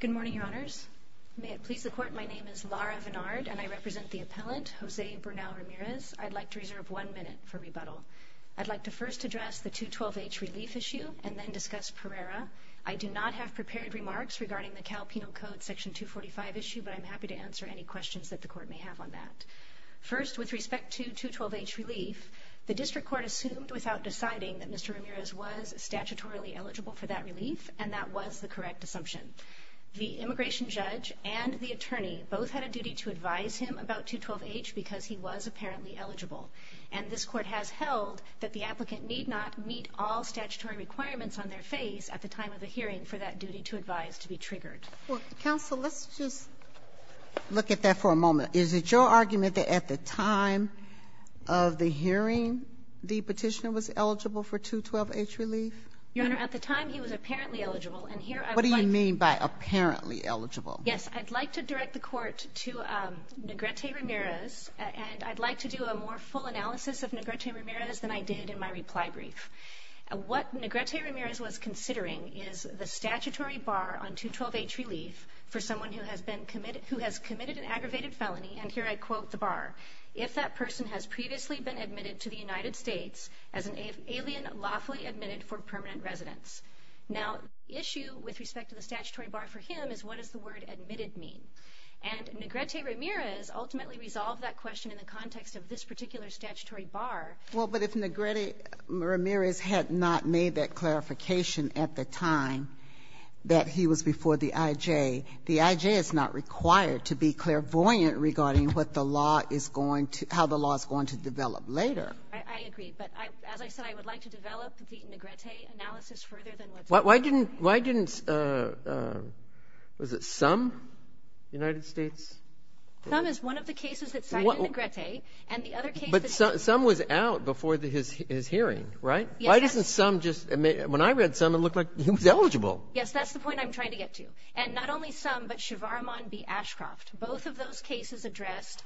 Good morning, Your Honors. May it please the Court, my name is Lara Vinard and I represent the appellant, Jose Bernal Ramirez. I'd like to reserve one minute for rebuttal. I'd like to first address the 212H relief issue and then discuss Pereira. I do not have prepared remarks regarding the Cal Penal Code Section 245 issue, but I'm happy to answer any questions that the Court may have on that. First, with respect to 212H relief, the District Court assumed without deciding that Mr. Ramirez was statutorily eligible for that relief, and that was the correct assumption. The immigration judge and the attorney both had a duty to advise him about 212H because he was apparently eligible. And this Court has held that the applicant need not meet all statutory requirements on their face at the time of the hearing for that duty to advise to be triggered. Sotomayor Well, counsel, let's just look at that for a moment. Is it your argument that at the time of the hearing, the petitioner was eligible for 212H relief? Ramirez Your Honor, at the time he was apparently eligible, and here I would like to Sotomayor What do you mean by apparently eligible? Ramirez Yes, I'd like to direct the Court to Negrete Ramirez, and I'd like to do a more full analysis of Negrete Ramirez than I did in my reply brief. What Negrete Ramirez was considering is the statutory bar on 212H relief for someone who has committed an aggravated felony, and here I quote the bar, if that person has previously been admitted to the United States as an alien lawfully admitted for permanent residence. Now the issue with respect to the statutory bar for him is what does the word admitted mean? And Negrete Ramirez ultimately resolved that question in the context of this particular statutory bar. Sotomayor Well, but if Negrete Ramirez had not made that clarification at the time that he was before the I.J., the I.J. is not required to be clairvoyant regarding what the law is going to how the law is going to develop later. Ramirez I agree, but as I said, I would like to develop the Negrete analysis further than what's in my reply brief. Breyer Why didn't, why didn't, was it Summ, United States? Ramirez Summ is one of the cases that cited Negrete, and the other case that Breyer But Summ was out before his hearing, right? Ramirez Yes, that's Breyer Why doesn't Summ just, when I read Summ, it looked like he was eligible. Ramirez Yes, that's the point I'm trying to get to. And not only Summ, but Shavarman v. Ashcroft, both of those cases addressed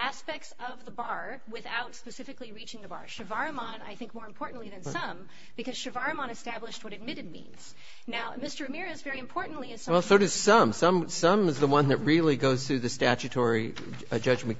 aspects of the bar without specifically reaching the bar. Shavarman, I think, more importantly than Summ, because Shavarman established what admitted means. Now, Mr. Ramirez, very importantly, in Summ's case Breyer Well, so does Summ. Summ is the one that really goes through the statutory judgment,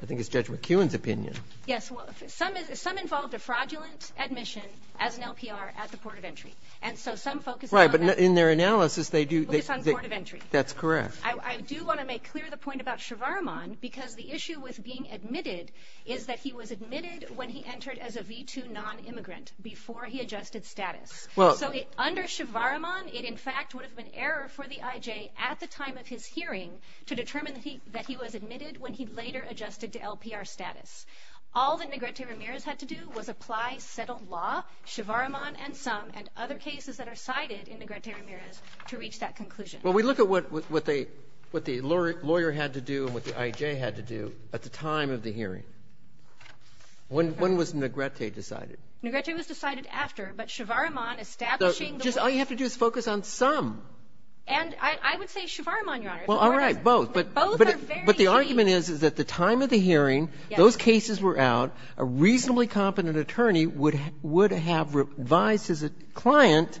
I think it's Judge McEwen's opinion. Ramirez Yes. Well, Summ involved a fraudulent admission as an LPR at the port of entry. And so Summ focuses on that. Breyer Right, but in their analysis, they do Ramirez Focus on the port of entry. Breyer That's correct. Ramirez I do want to make clear the point about Shavarman, because the issue with being admitted is that he was admitted when he entered as a V2 non-immigrant, before he adjusted status. So under Shavarman, it in fact would have been error for the I.J. at the time of his hearing to determine that he was admitted when he later adjusted to LPR status. All that Negrete Ramirez had to do was apply settled law, Shavarman and other cases that are cited in Negrete Ramirez to reach that conclusion. Breyer Well, we look at what the lawyer had to do and what the I.J. had to do at the time of the hearing. When was Negrete decided? Ramirez Negrete was decided after, but Shavarman establishing the lawyer Breyer Just all you have to do is focus on Summ. Ramirez And I would say Shavarman, Your Honor. Breyer Well, all right, both. Ramirez But both are very cheap. Breyer But the argument is, is at the time of the hearing, those cases were out. A reasonably competent attorney would have revised as a client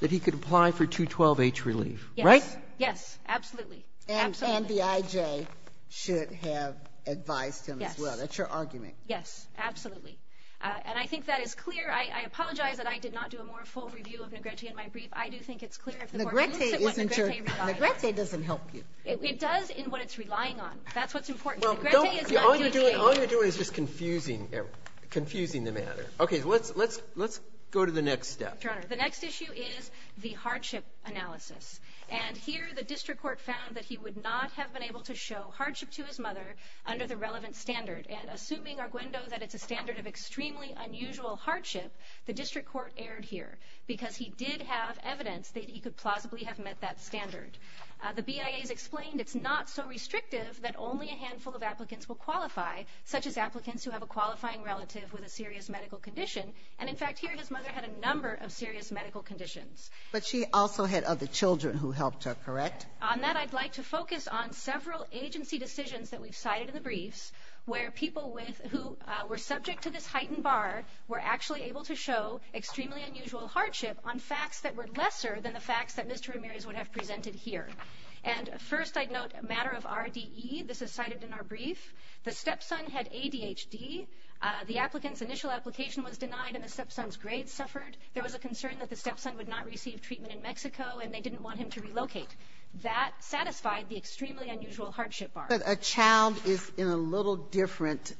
that he could apply for 212-H relief, right? Ramirez Yes, yes, absolutely, absolutely. Sotomayor And the I.J. should have advised him as well. Ramirez Yes. Sotomayor That's your argument. Ramirez Yes, absolutely. And I think that is clear. I apologize that I did not do a more full review of Negrete in my brief. I do think it's clear if the Court believes in what Negrete relies on. Sotomayor Negrete doesn't help you. That's what's important. Negrete is not doing anything. Confusing the matter. Okay, let's go to the next step. Ramirez Your Honor, the next issue is the hardship analysis. And here, the district court found that he would not have been able to show hardship to his mother under the relevant standard. And assuming, Arguendo, that it's a standard of extremely unusual hardship, the district court erred here because he did have evidence that he could plausibly have met that standard. The BIA has explained it's not so restrictive that only a handful of applicants will qualify, such as applicants who have a qualifying relative with a serious medical condition. And in fact, here, his mother had a number of serious medical conditions. Sotomayor But she also had other children who helped her, correct? Ramirez On that, I'd like to focus on several agency decisions that we've cited in the briefs, where people who were subject to this heightened bar were actually able to show extremely unusual hardship on facts that were lesser than the facts that Mr. Ramirez would have presented here. And first, I'd note a matter of RDE. This is cited in our brief. The stepson had ADHD. The applicant's initial application was denied and the stepson's grades suffered. There was a concern that the stepson would not receive treatment in Mexico and they didn't want him to relocate. That satisfied the extremely unusual hardship bar. Sotomayor But a child is in a little different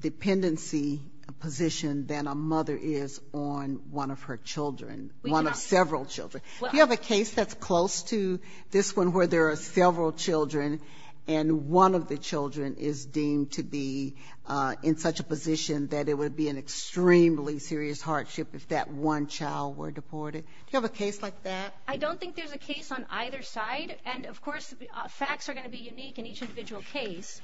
dependency position than a mother is on one of her children, one of several children. You have a case that's close to this one where there are several children and one of the children is deemed to be in such a position that it would be an extremely serious hardship if that one child were deported. Do you have a case like that? Ramirez I don't think there's a case on either side. And of course, facts are going to be unique in each individual case.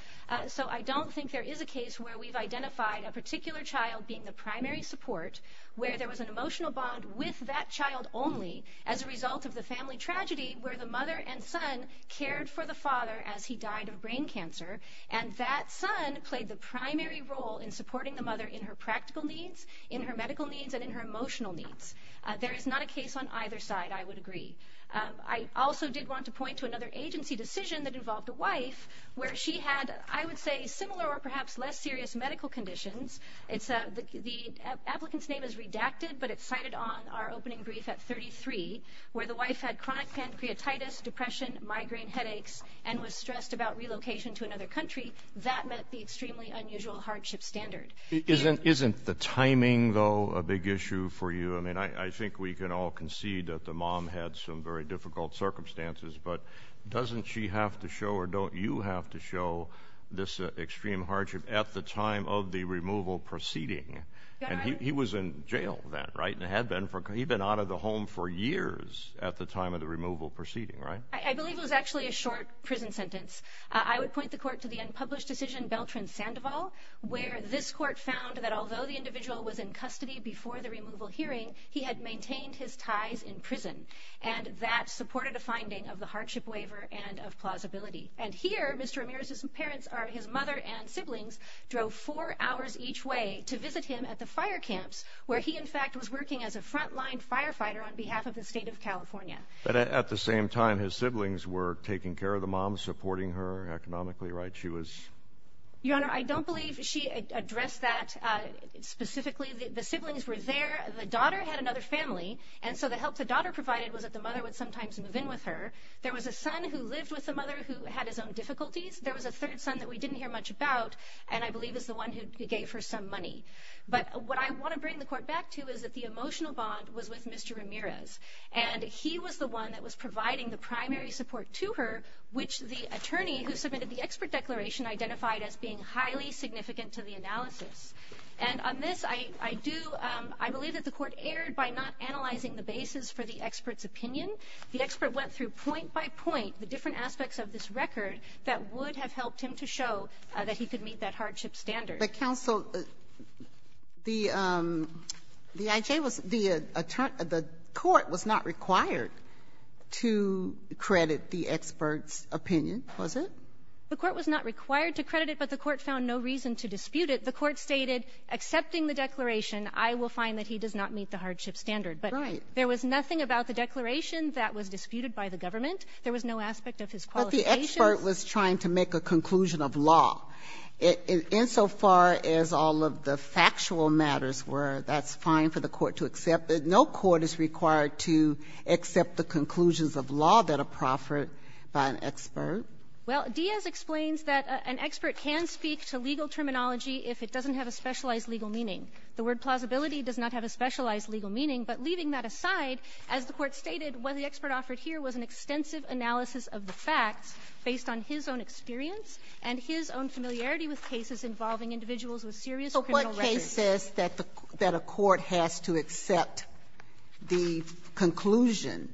So I don't think there is a case where we've identified a particular child being the primary support where there was an emotional bond with that child only as a result of the family tragedy where the mother and son cared for the father as he died of brain cancer. And that son played the primary role in supporting the mother in her practical needs, in her medical needs and in her emotional needs. There is not a case on either side, I would agree. I also did want to point to another agency decision that involved a wife where she had, I would say, similar or perhaps less serious medical conditions. The applicant's name is redacted, but it's cited on our opening brief at 33, where the wife had chronic pancreatitis, depression, migraine headaches, and was stressed about relocation to another country. That met the extremely unusual hardship standard. Isn't the timing, though, a big issue for you? I mean, I think we can all concede that the mom had some very difficult circumstances, but doesn't she have to show or don't you have to show this removal proceeding? And he was in jail then, right? And had been for, he'd been out of the home for years at the time of the removal proceeding, right? I believe it was actually a short prison sentence. I would point the court to the unpublished decision, Beltran-Sandoval, where this court found that although the individual was in custody before the removal hearing, he had maintained his ties in prison. And that supported a finding of the hardship waiver and of plausibility. And here, Mr. Ramirez's parents, or his mother and siblings, drove four hours each way to visit him at the fire camps, where he, in fact, was working as a frontline firefighter on behalf of the state of California. But at the same time, his siblings were taking care of the mom, supporting her economically, right? She was? Your Honor, I don't believe she addressed that specifically. The siblings were there, the daughter had another family, and so the help the daughter provided was that the mother would sometimes move in with her. There was a son who lived with the mother who had his own difficulties. There was a third son that we didn't hear much about, and I believe is the one who gave her some money. But what I want to bring the court back to is that the emotional bond was with Mr. Ramirez. And he was the one that was providing the primary support to her, which the attorney who submitted the expert declaration identified as being highly significant to the analysis. And on this, I do, I believe that the court erred by not analyzing the basis for the expert's opinion. The expert went through point by point the different aspects of this record that would have helped him to show that he could meet that hardship standard. But, counsel, the I.J. was the attorney the court was not required to credit the expert's opinion, was it? The court was not required to credit it, but the court found no reason to dispute it. The court stated, accepting the declaration, I will find that he does not meet the hardship standard. Right. There was nothing about the declaration that was disputed by the government. There was no aspect of his qualifications. But the expert was trying to make a conclusion of law. Insofar as all of the factual matters were, that's fine for the court to accept. No court is required to accept the conclusions of law that are proffered by an expert. Well, Diaz explains that an expert can speak to legal terminology if it doesn't have a specialized legal meaning. The word plausibility does not have a specialized legal meaning, but leaving that aside, as the Court stated, what the expert offered here was an extensive analysis of the facts based on his own experience and his own familiarity with cases involving individuals with serious criminal records. So what case says that a court has to accept the conclusion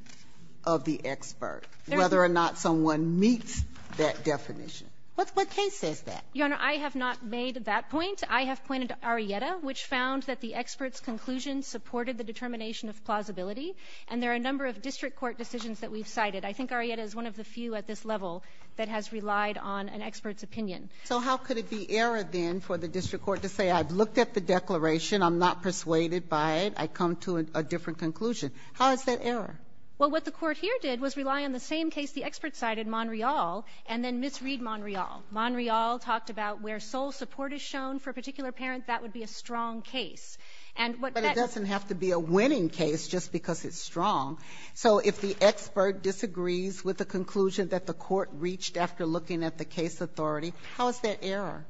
of the expert, whether or not someone meets that definition? What case says that? Your Honor, I have not made that point. I have pointed to Arrieta, which found that the expert's conclusion supported the determination of plausibility. And there are a number of district court decisions that we've cited. I think Arrieta is one of the few at this level that has relied on an expert's opinion. So how could it be error, then, for the district court to say I've looked at the declaration, I'm not persuaded by it, I come to a different conclusion? How is that error? Well, what the court here did was rely on the same case the expert cited, Monreal, and then misread Monreal. Monreal talked about where sole support is shown for a particular parent, that would be a strong case. And what that doesn't have to be a winning case just because it's strong. So if the expert disagrees with the conclusion that the court reached after looking at the case authority, how is that error?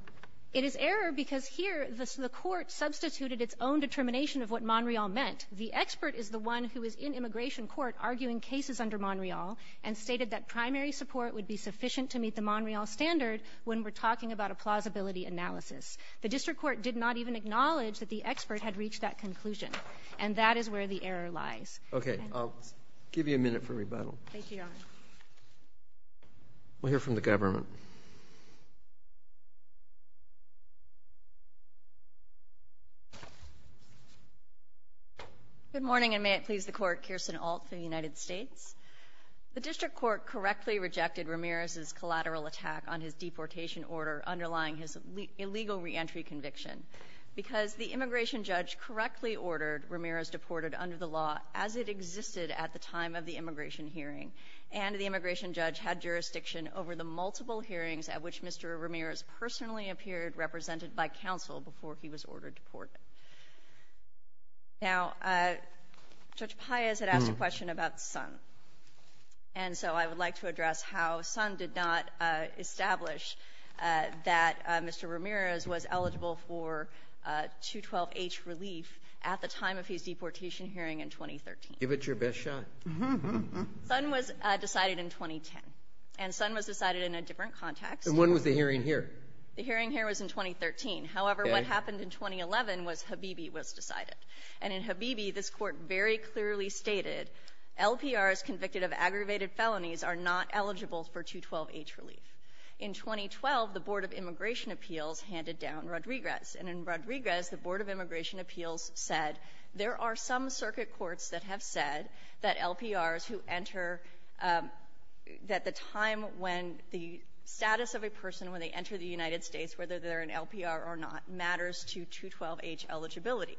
It is error because here the court substituted its own determination of what Monreal meant. The expert is the one who is in immigration court arguing cases under Monreal and stated that primary support would be sufficient to meet the Monreal standard when we're talking about a plausibility analysis. The district court did not even acknowledge that the expert had reached that conclusion. And that is where the error lies. Okay. I'll give you a minute for rebuttal. Thank you, Your Honor. We'll hear from the government. Good morning, and may it please the court, Kirsten Ault for the United States. The district court correctly rejected Ramirez's collateral attack on his deportation order underlying his illegal reentry conviction. Because the immigration judge correctly ordered Ramirez deported under the law as it existed at the time of the immigration hearing. And the immigration judge had jurisdiction over the multiple hearings at which Mr. Ramirez personally appeared represented by counsel before he was ordered to port. Now, Judge Paius had asked a question about Sun. And so I would like to address how Sun did not establish that Mr. Ramirez was eligible for 212H relief at the time of his deportation hearing in 2013. Give it your best shot. Sun was decided in 2010. And Sun was decided in a different context. And when was the hearing here? The hearing here was in 2013. However, what happened in 2011 was Habibi was decided. And in Habibi, this court very clearly stated, LPRs convicted of aggravated felonies are not eligible for 212H relief. In 2012, the Board of Immigration Appeals handed down Rodriguez. And in Rodriguez, the Board of Immigration Appeals said, there are some circuit courts that have said that LPRs who enter, that the time when the status of a person when they enter the United States, whether they're an LPR or not, matters to 212H eligibility.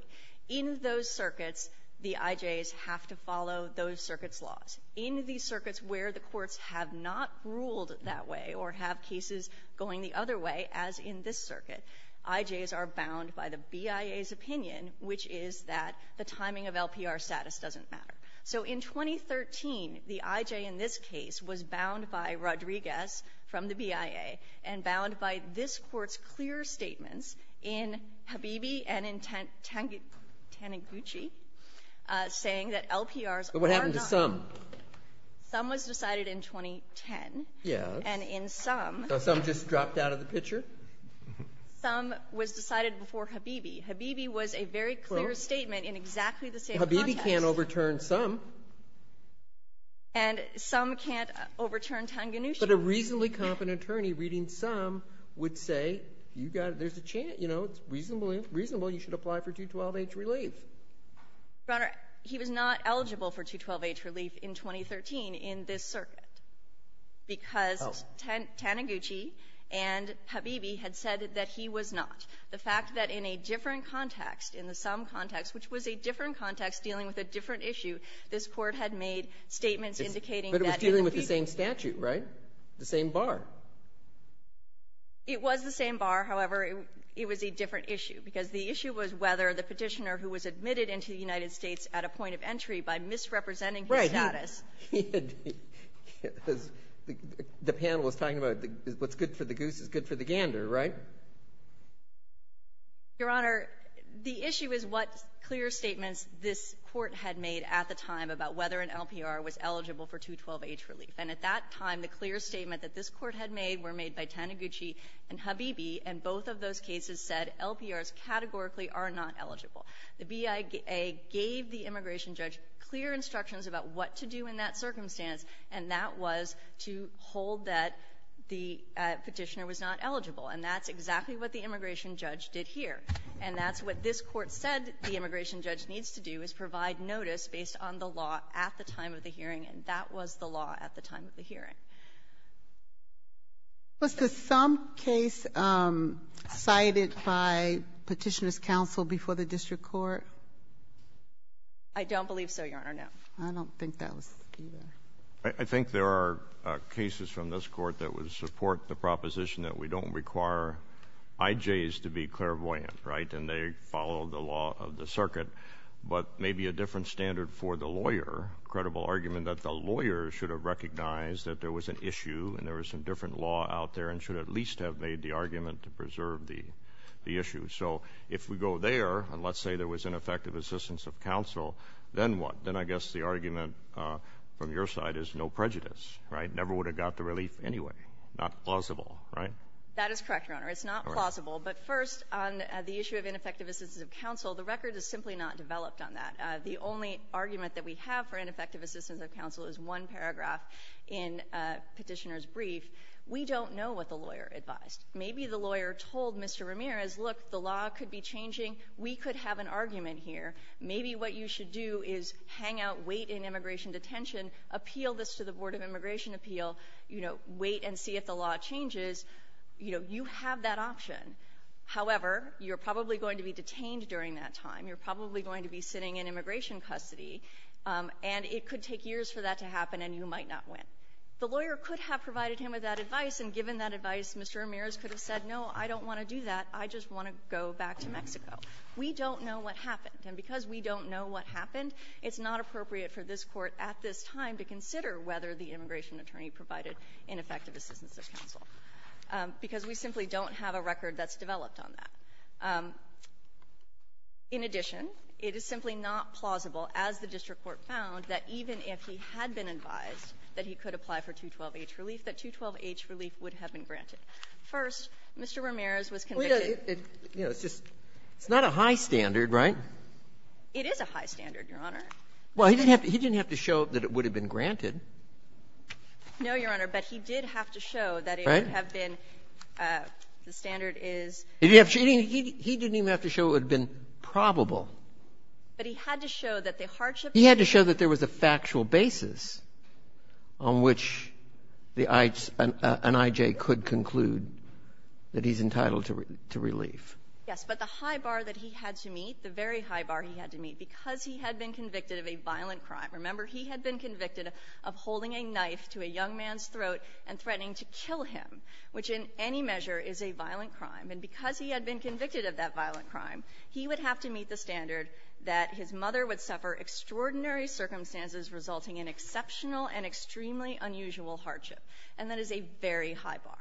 In those circuits, the IJs have to follow those circuits' laws. In the circuits where the courts have not ruled that way or have cases going the other way, as in this circuit, IJs are bound by the BIA's opinion, which is that the timing of LPR status doesn't matter. So in 2013, the IJ in this case was bound by Rodriguez from the BIA and bound by this court's clear statements in Habibi and in Taniguchi, saying that LPRs are not- But what happened to Sum? Sum was decided in 2010. Yes. And in Sum- So Sum just dropped out of the picture? Sum was decided before Habibi. Habibi was a very clear statement in exactly the same context. Habibi can't overturn Sum. And Sum can't overturn Taniguchi. But a reasonably competent attorney reading Sum would say, there's a chance, you know, it's reasonable you should apply for 212H relief. Your Honor, he was not eligible for 212H relief in 2013 in this circuit because Taniguchi and Habibi had said that he was not. The fact that in a different context, in the Sum context, which was a different context dealing with a different issue, this court had made statements indicating that- Dealing with the same statute, right? The same bar. It was the same bar. However, it was a different issue because the issue was whether the petitioner who was admitted into the United States at a point of entry by misrepresenting his status- Right. He had- The panel was talking about what's good for the goose is good for the gander, right? Your Honor, the issue is what clear statements this court had made at the time about whether an LPR was eligible for 212H relief. And at that time, the clear statement that this court had made were made by Taniguchi and Habibi, and both of those cases said LPRs categorically are not eligible. The BIA gave the immigration judge clear instructions about what to do in that circumstance, and that was to hold that the petitioner was not eligible. And that's exactly what the immigration judge did here. And that's what this court said the immigration judge needs to do is provide notice based on the law at the time of the hearing, and that was the law at the time of the hearing. Was there some case cited by petitioner's counsel before the district court? I don't believe so, Your Honor, no. I don't think that was either. I think there are cases from this court that would support the proposition that we don't require IJs to be clairvoyant, right, and they follow the law of the circuit, but maybe a different standard for the lawyer, credible argument that the lawyer should have recognized that there was an issue and there was some different law out there and should at least have made the argument to preserve the issue. So if we go there, and let's say there was ineffective assistance of counsel, then what? Then I guess the argument from your side is no prejudice, right? Never would have got the relief anyway. Not plausible, right? That is correct, Your Honor. It's not plausible. But first, on the issue of ineffective assistance of counsel, the record is simply not developed on that. The only argument that we have for ineffective assistance of counsel is one paragraph in petitioner's brief. We don't know what the lawyer advised. Maybe the lawyer told Mr. Ramirez, look, the law could be changing. We could have an argument here. Maybe what you should do is hang out, wait in immigration detention, appeal this to the Board of Immigration Appeal, you know, wait and see if the law changes. You know, you have that option. However, you're probably going to be detained during that time. You're probably going to be sitting in immigration custody. And it could take years for that to happen, and you might not win. The lawyer could have provided him with that advice, and given that advice, Mr. Ramirez could have said, no, I don't want to do that. I just want to go back to Mexico. We don't know what happened. And because we don't know what happened, it's not appropriate for this Court at this time to consider whether the immigration attorney provided ineffective assistance of counsel, because we simply don't have a record that's developed on that. In addition, it is simply not plausible, as the district court found, that even if he had been advised that he could apply for 212-H relief, that 212-H relief would have been granted. First, Mr. Ramirez was convicted. It's not a high standard, right? It is a high standard, Your Honor. Well, he didn't have to show that it would have been granted. No, Your Honor. But he did have to show that it would have been the standard is ---- He didn't even have to show it would have been probable. But he had to show that the hardship ---- He had to show that there was a factual basis on which an I.J. could conclude that he's entitled to relief. Yes, but the high bar that he had to meet, the very high bar he had to meet, because he had been convicted of a violent crime. Remember, he had been convicted of holding a knife to a young man's throat and threatening to kill him, which in any measure is a violent crime. And because he had been convicted of that violent crime, he would have to meet the standard that his mother would suffer extraordinary circumstances resulting in exceptional and extremely unusual hardship. And that is a very high bar.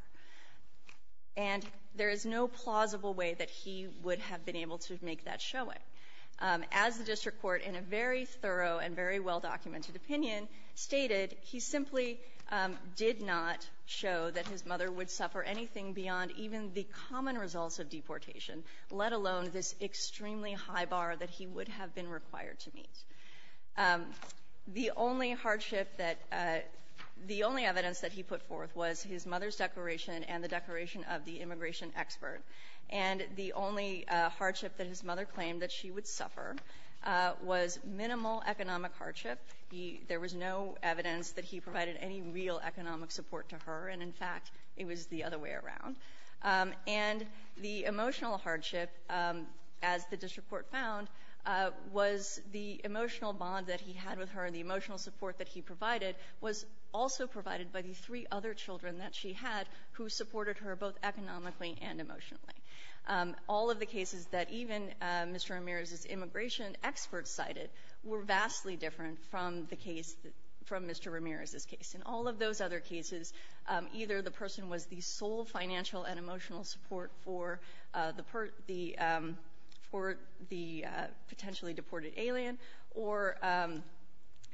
And there is no plausible way that he would have been able to make that showing. As the district court in a very thorough and very well-documented opinion stated, he simply did not show that his mother would suffer anything beyond even the common results of deportation, let alone this extremely high bar that he would have been required to meet. The only hardship that ---- The only evidence that he put forth was his mother's declaration and the declaration of the immigration expert. And the only hardship that his mother claimed that she would suffer was minimal economic hardship. There was no evidence that he provided any real economic support to her. And in fact, it was the other way around. And the emotional hardship, as the district court found, was the emotional bond that he had with her and the emotional support that he provided was also provided by the three other children that she had who supported her both economically and emotionally. All of the cases that even Mr. Ramirez's immigration expert cited were vastly different from Mr. Ramirez's case. In all of those other cases, either the person was the sole financial and emotional support for the potentially deported alien or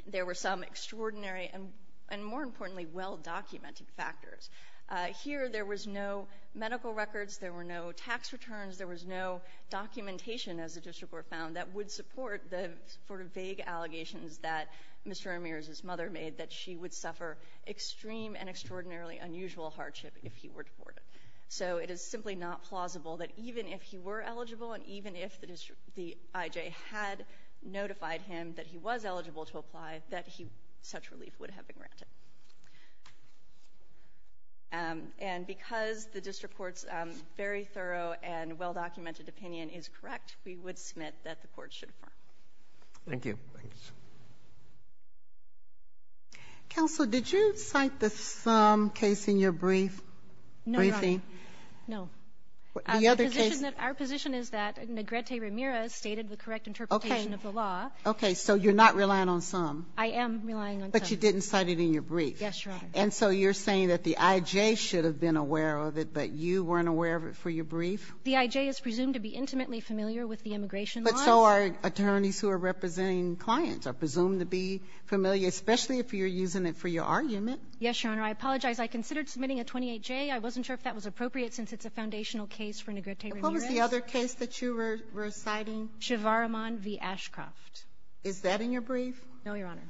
there were some extraordinary and more importantly well-documented factors. Here, there was no medical records, there were no tax returns, there was no documentation, as the district court found, that would support the sort of vague allegations that Mr. Ramirez's mother made that she would suffer extreme and extraordinarily unusual hardship if he were deported. So it is simply not plausible that even if he were eligible and even if the IJ had notified him that he was eligible to apply, that such relief would have been granted. And because the district court's very thorough and well-documented opinion is correct, we would submit that the court should affirm. Thank you. Counsel, did you cite the Sum case in your briefing? No, Your Honor. No. The other case... Our position is that Negrete Ramirez stated the correct interpretation of the law. Okay, so you're not relying on Sum? I am relying on Sum. But you didn't cite it in your briefing? Yes, Your Honor. And so you're saying that the IJ should have been aware of it, but you weren't aware of it for your brief? The IJ is presumed to be intimately familiar with the immigration laws. But so are attorneys who are representing clients are presumed to be familiar, especially if you're using it for your argument? Yes, Your Honor. I apologize. I considered submitting a 28J. I wasn't sure if that was appropriate since it's a foundational case for Negrete Ramirez. And what was the other case that you were citing? Shivaraman v. Ashcroft. Is that in your brief? No, Your Honor.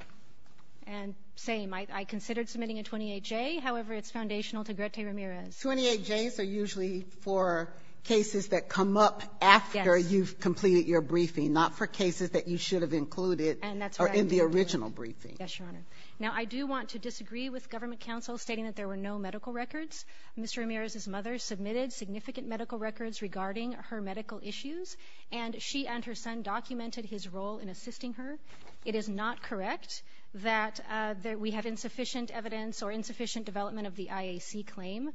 And same, I considered submitting a 28J. However, it's foundational to Negrete Ramirez. 28Js are usually for cases that come up after you've completed your briefing, not for cases that you should have included in the original briefing. Yes, Your Honor. Now, I do want to disagree with government counsel stating that there were no medical records. Mr. Ramirez's mother submitted significant medical records regarding her medical issues, and she and her son documented his role in assisting her. It is not correct that we have insufficient evidence or insufficient development of the IAC claim.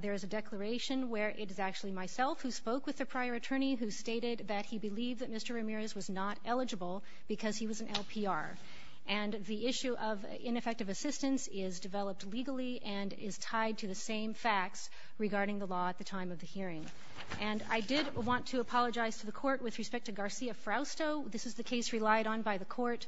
There is a declaration where it is actually myself who spoke with the prior attorney who stated that he believed that Mr. Ramirez was not eligible because he was an LPR. And the issue of ineffective assistance is developed legally and is tied to the same facts regarding the law at the time of the hearing. And I did want to apologize to the Court with respect to Garcia-Frausto. This is the case relied on by the Court.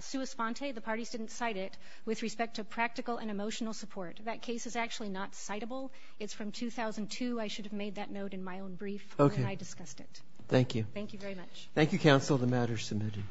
Sua Sponte, the parties didn't cite it with respect to practical and emotional support. That case is actually not citable. It's from 2002. I should have made that note in my own brief when I discussed it. Thank you. Thank you very much. Thank you, counsel. The matter is submitted.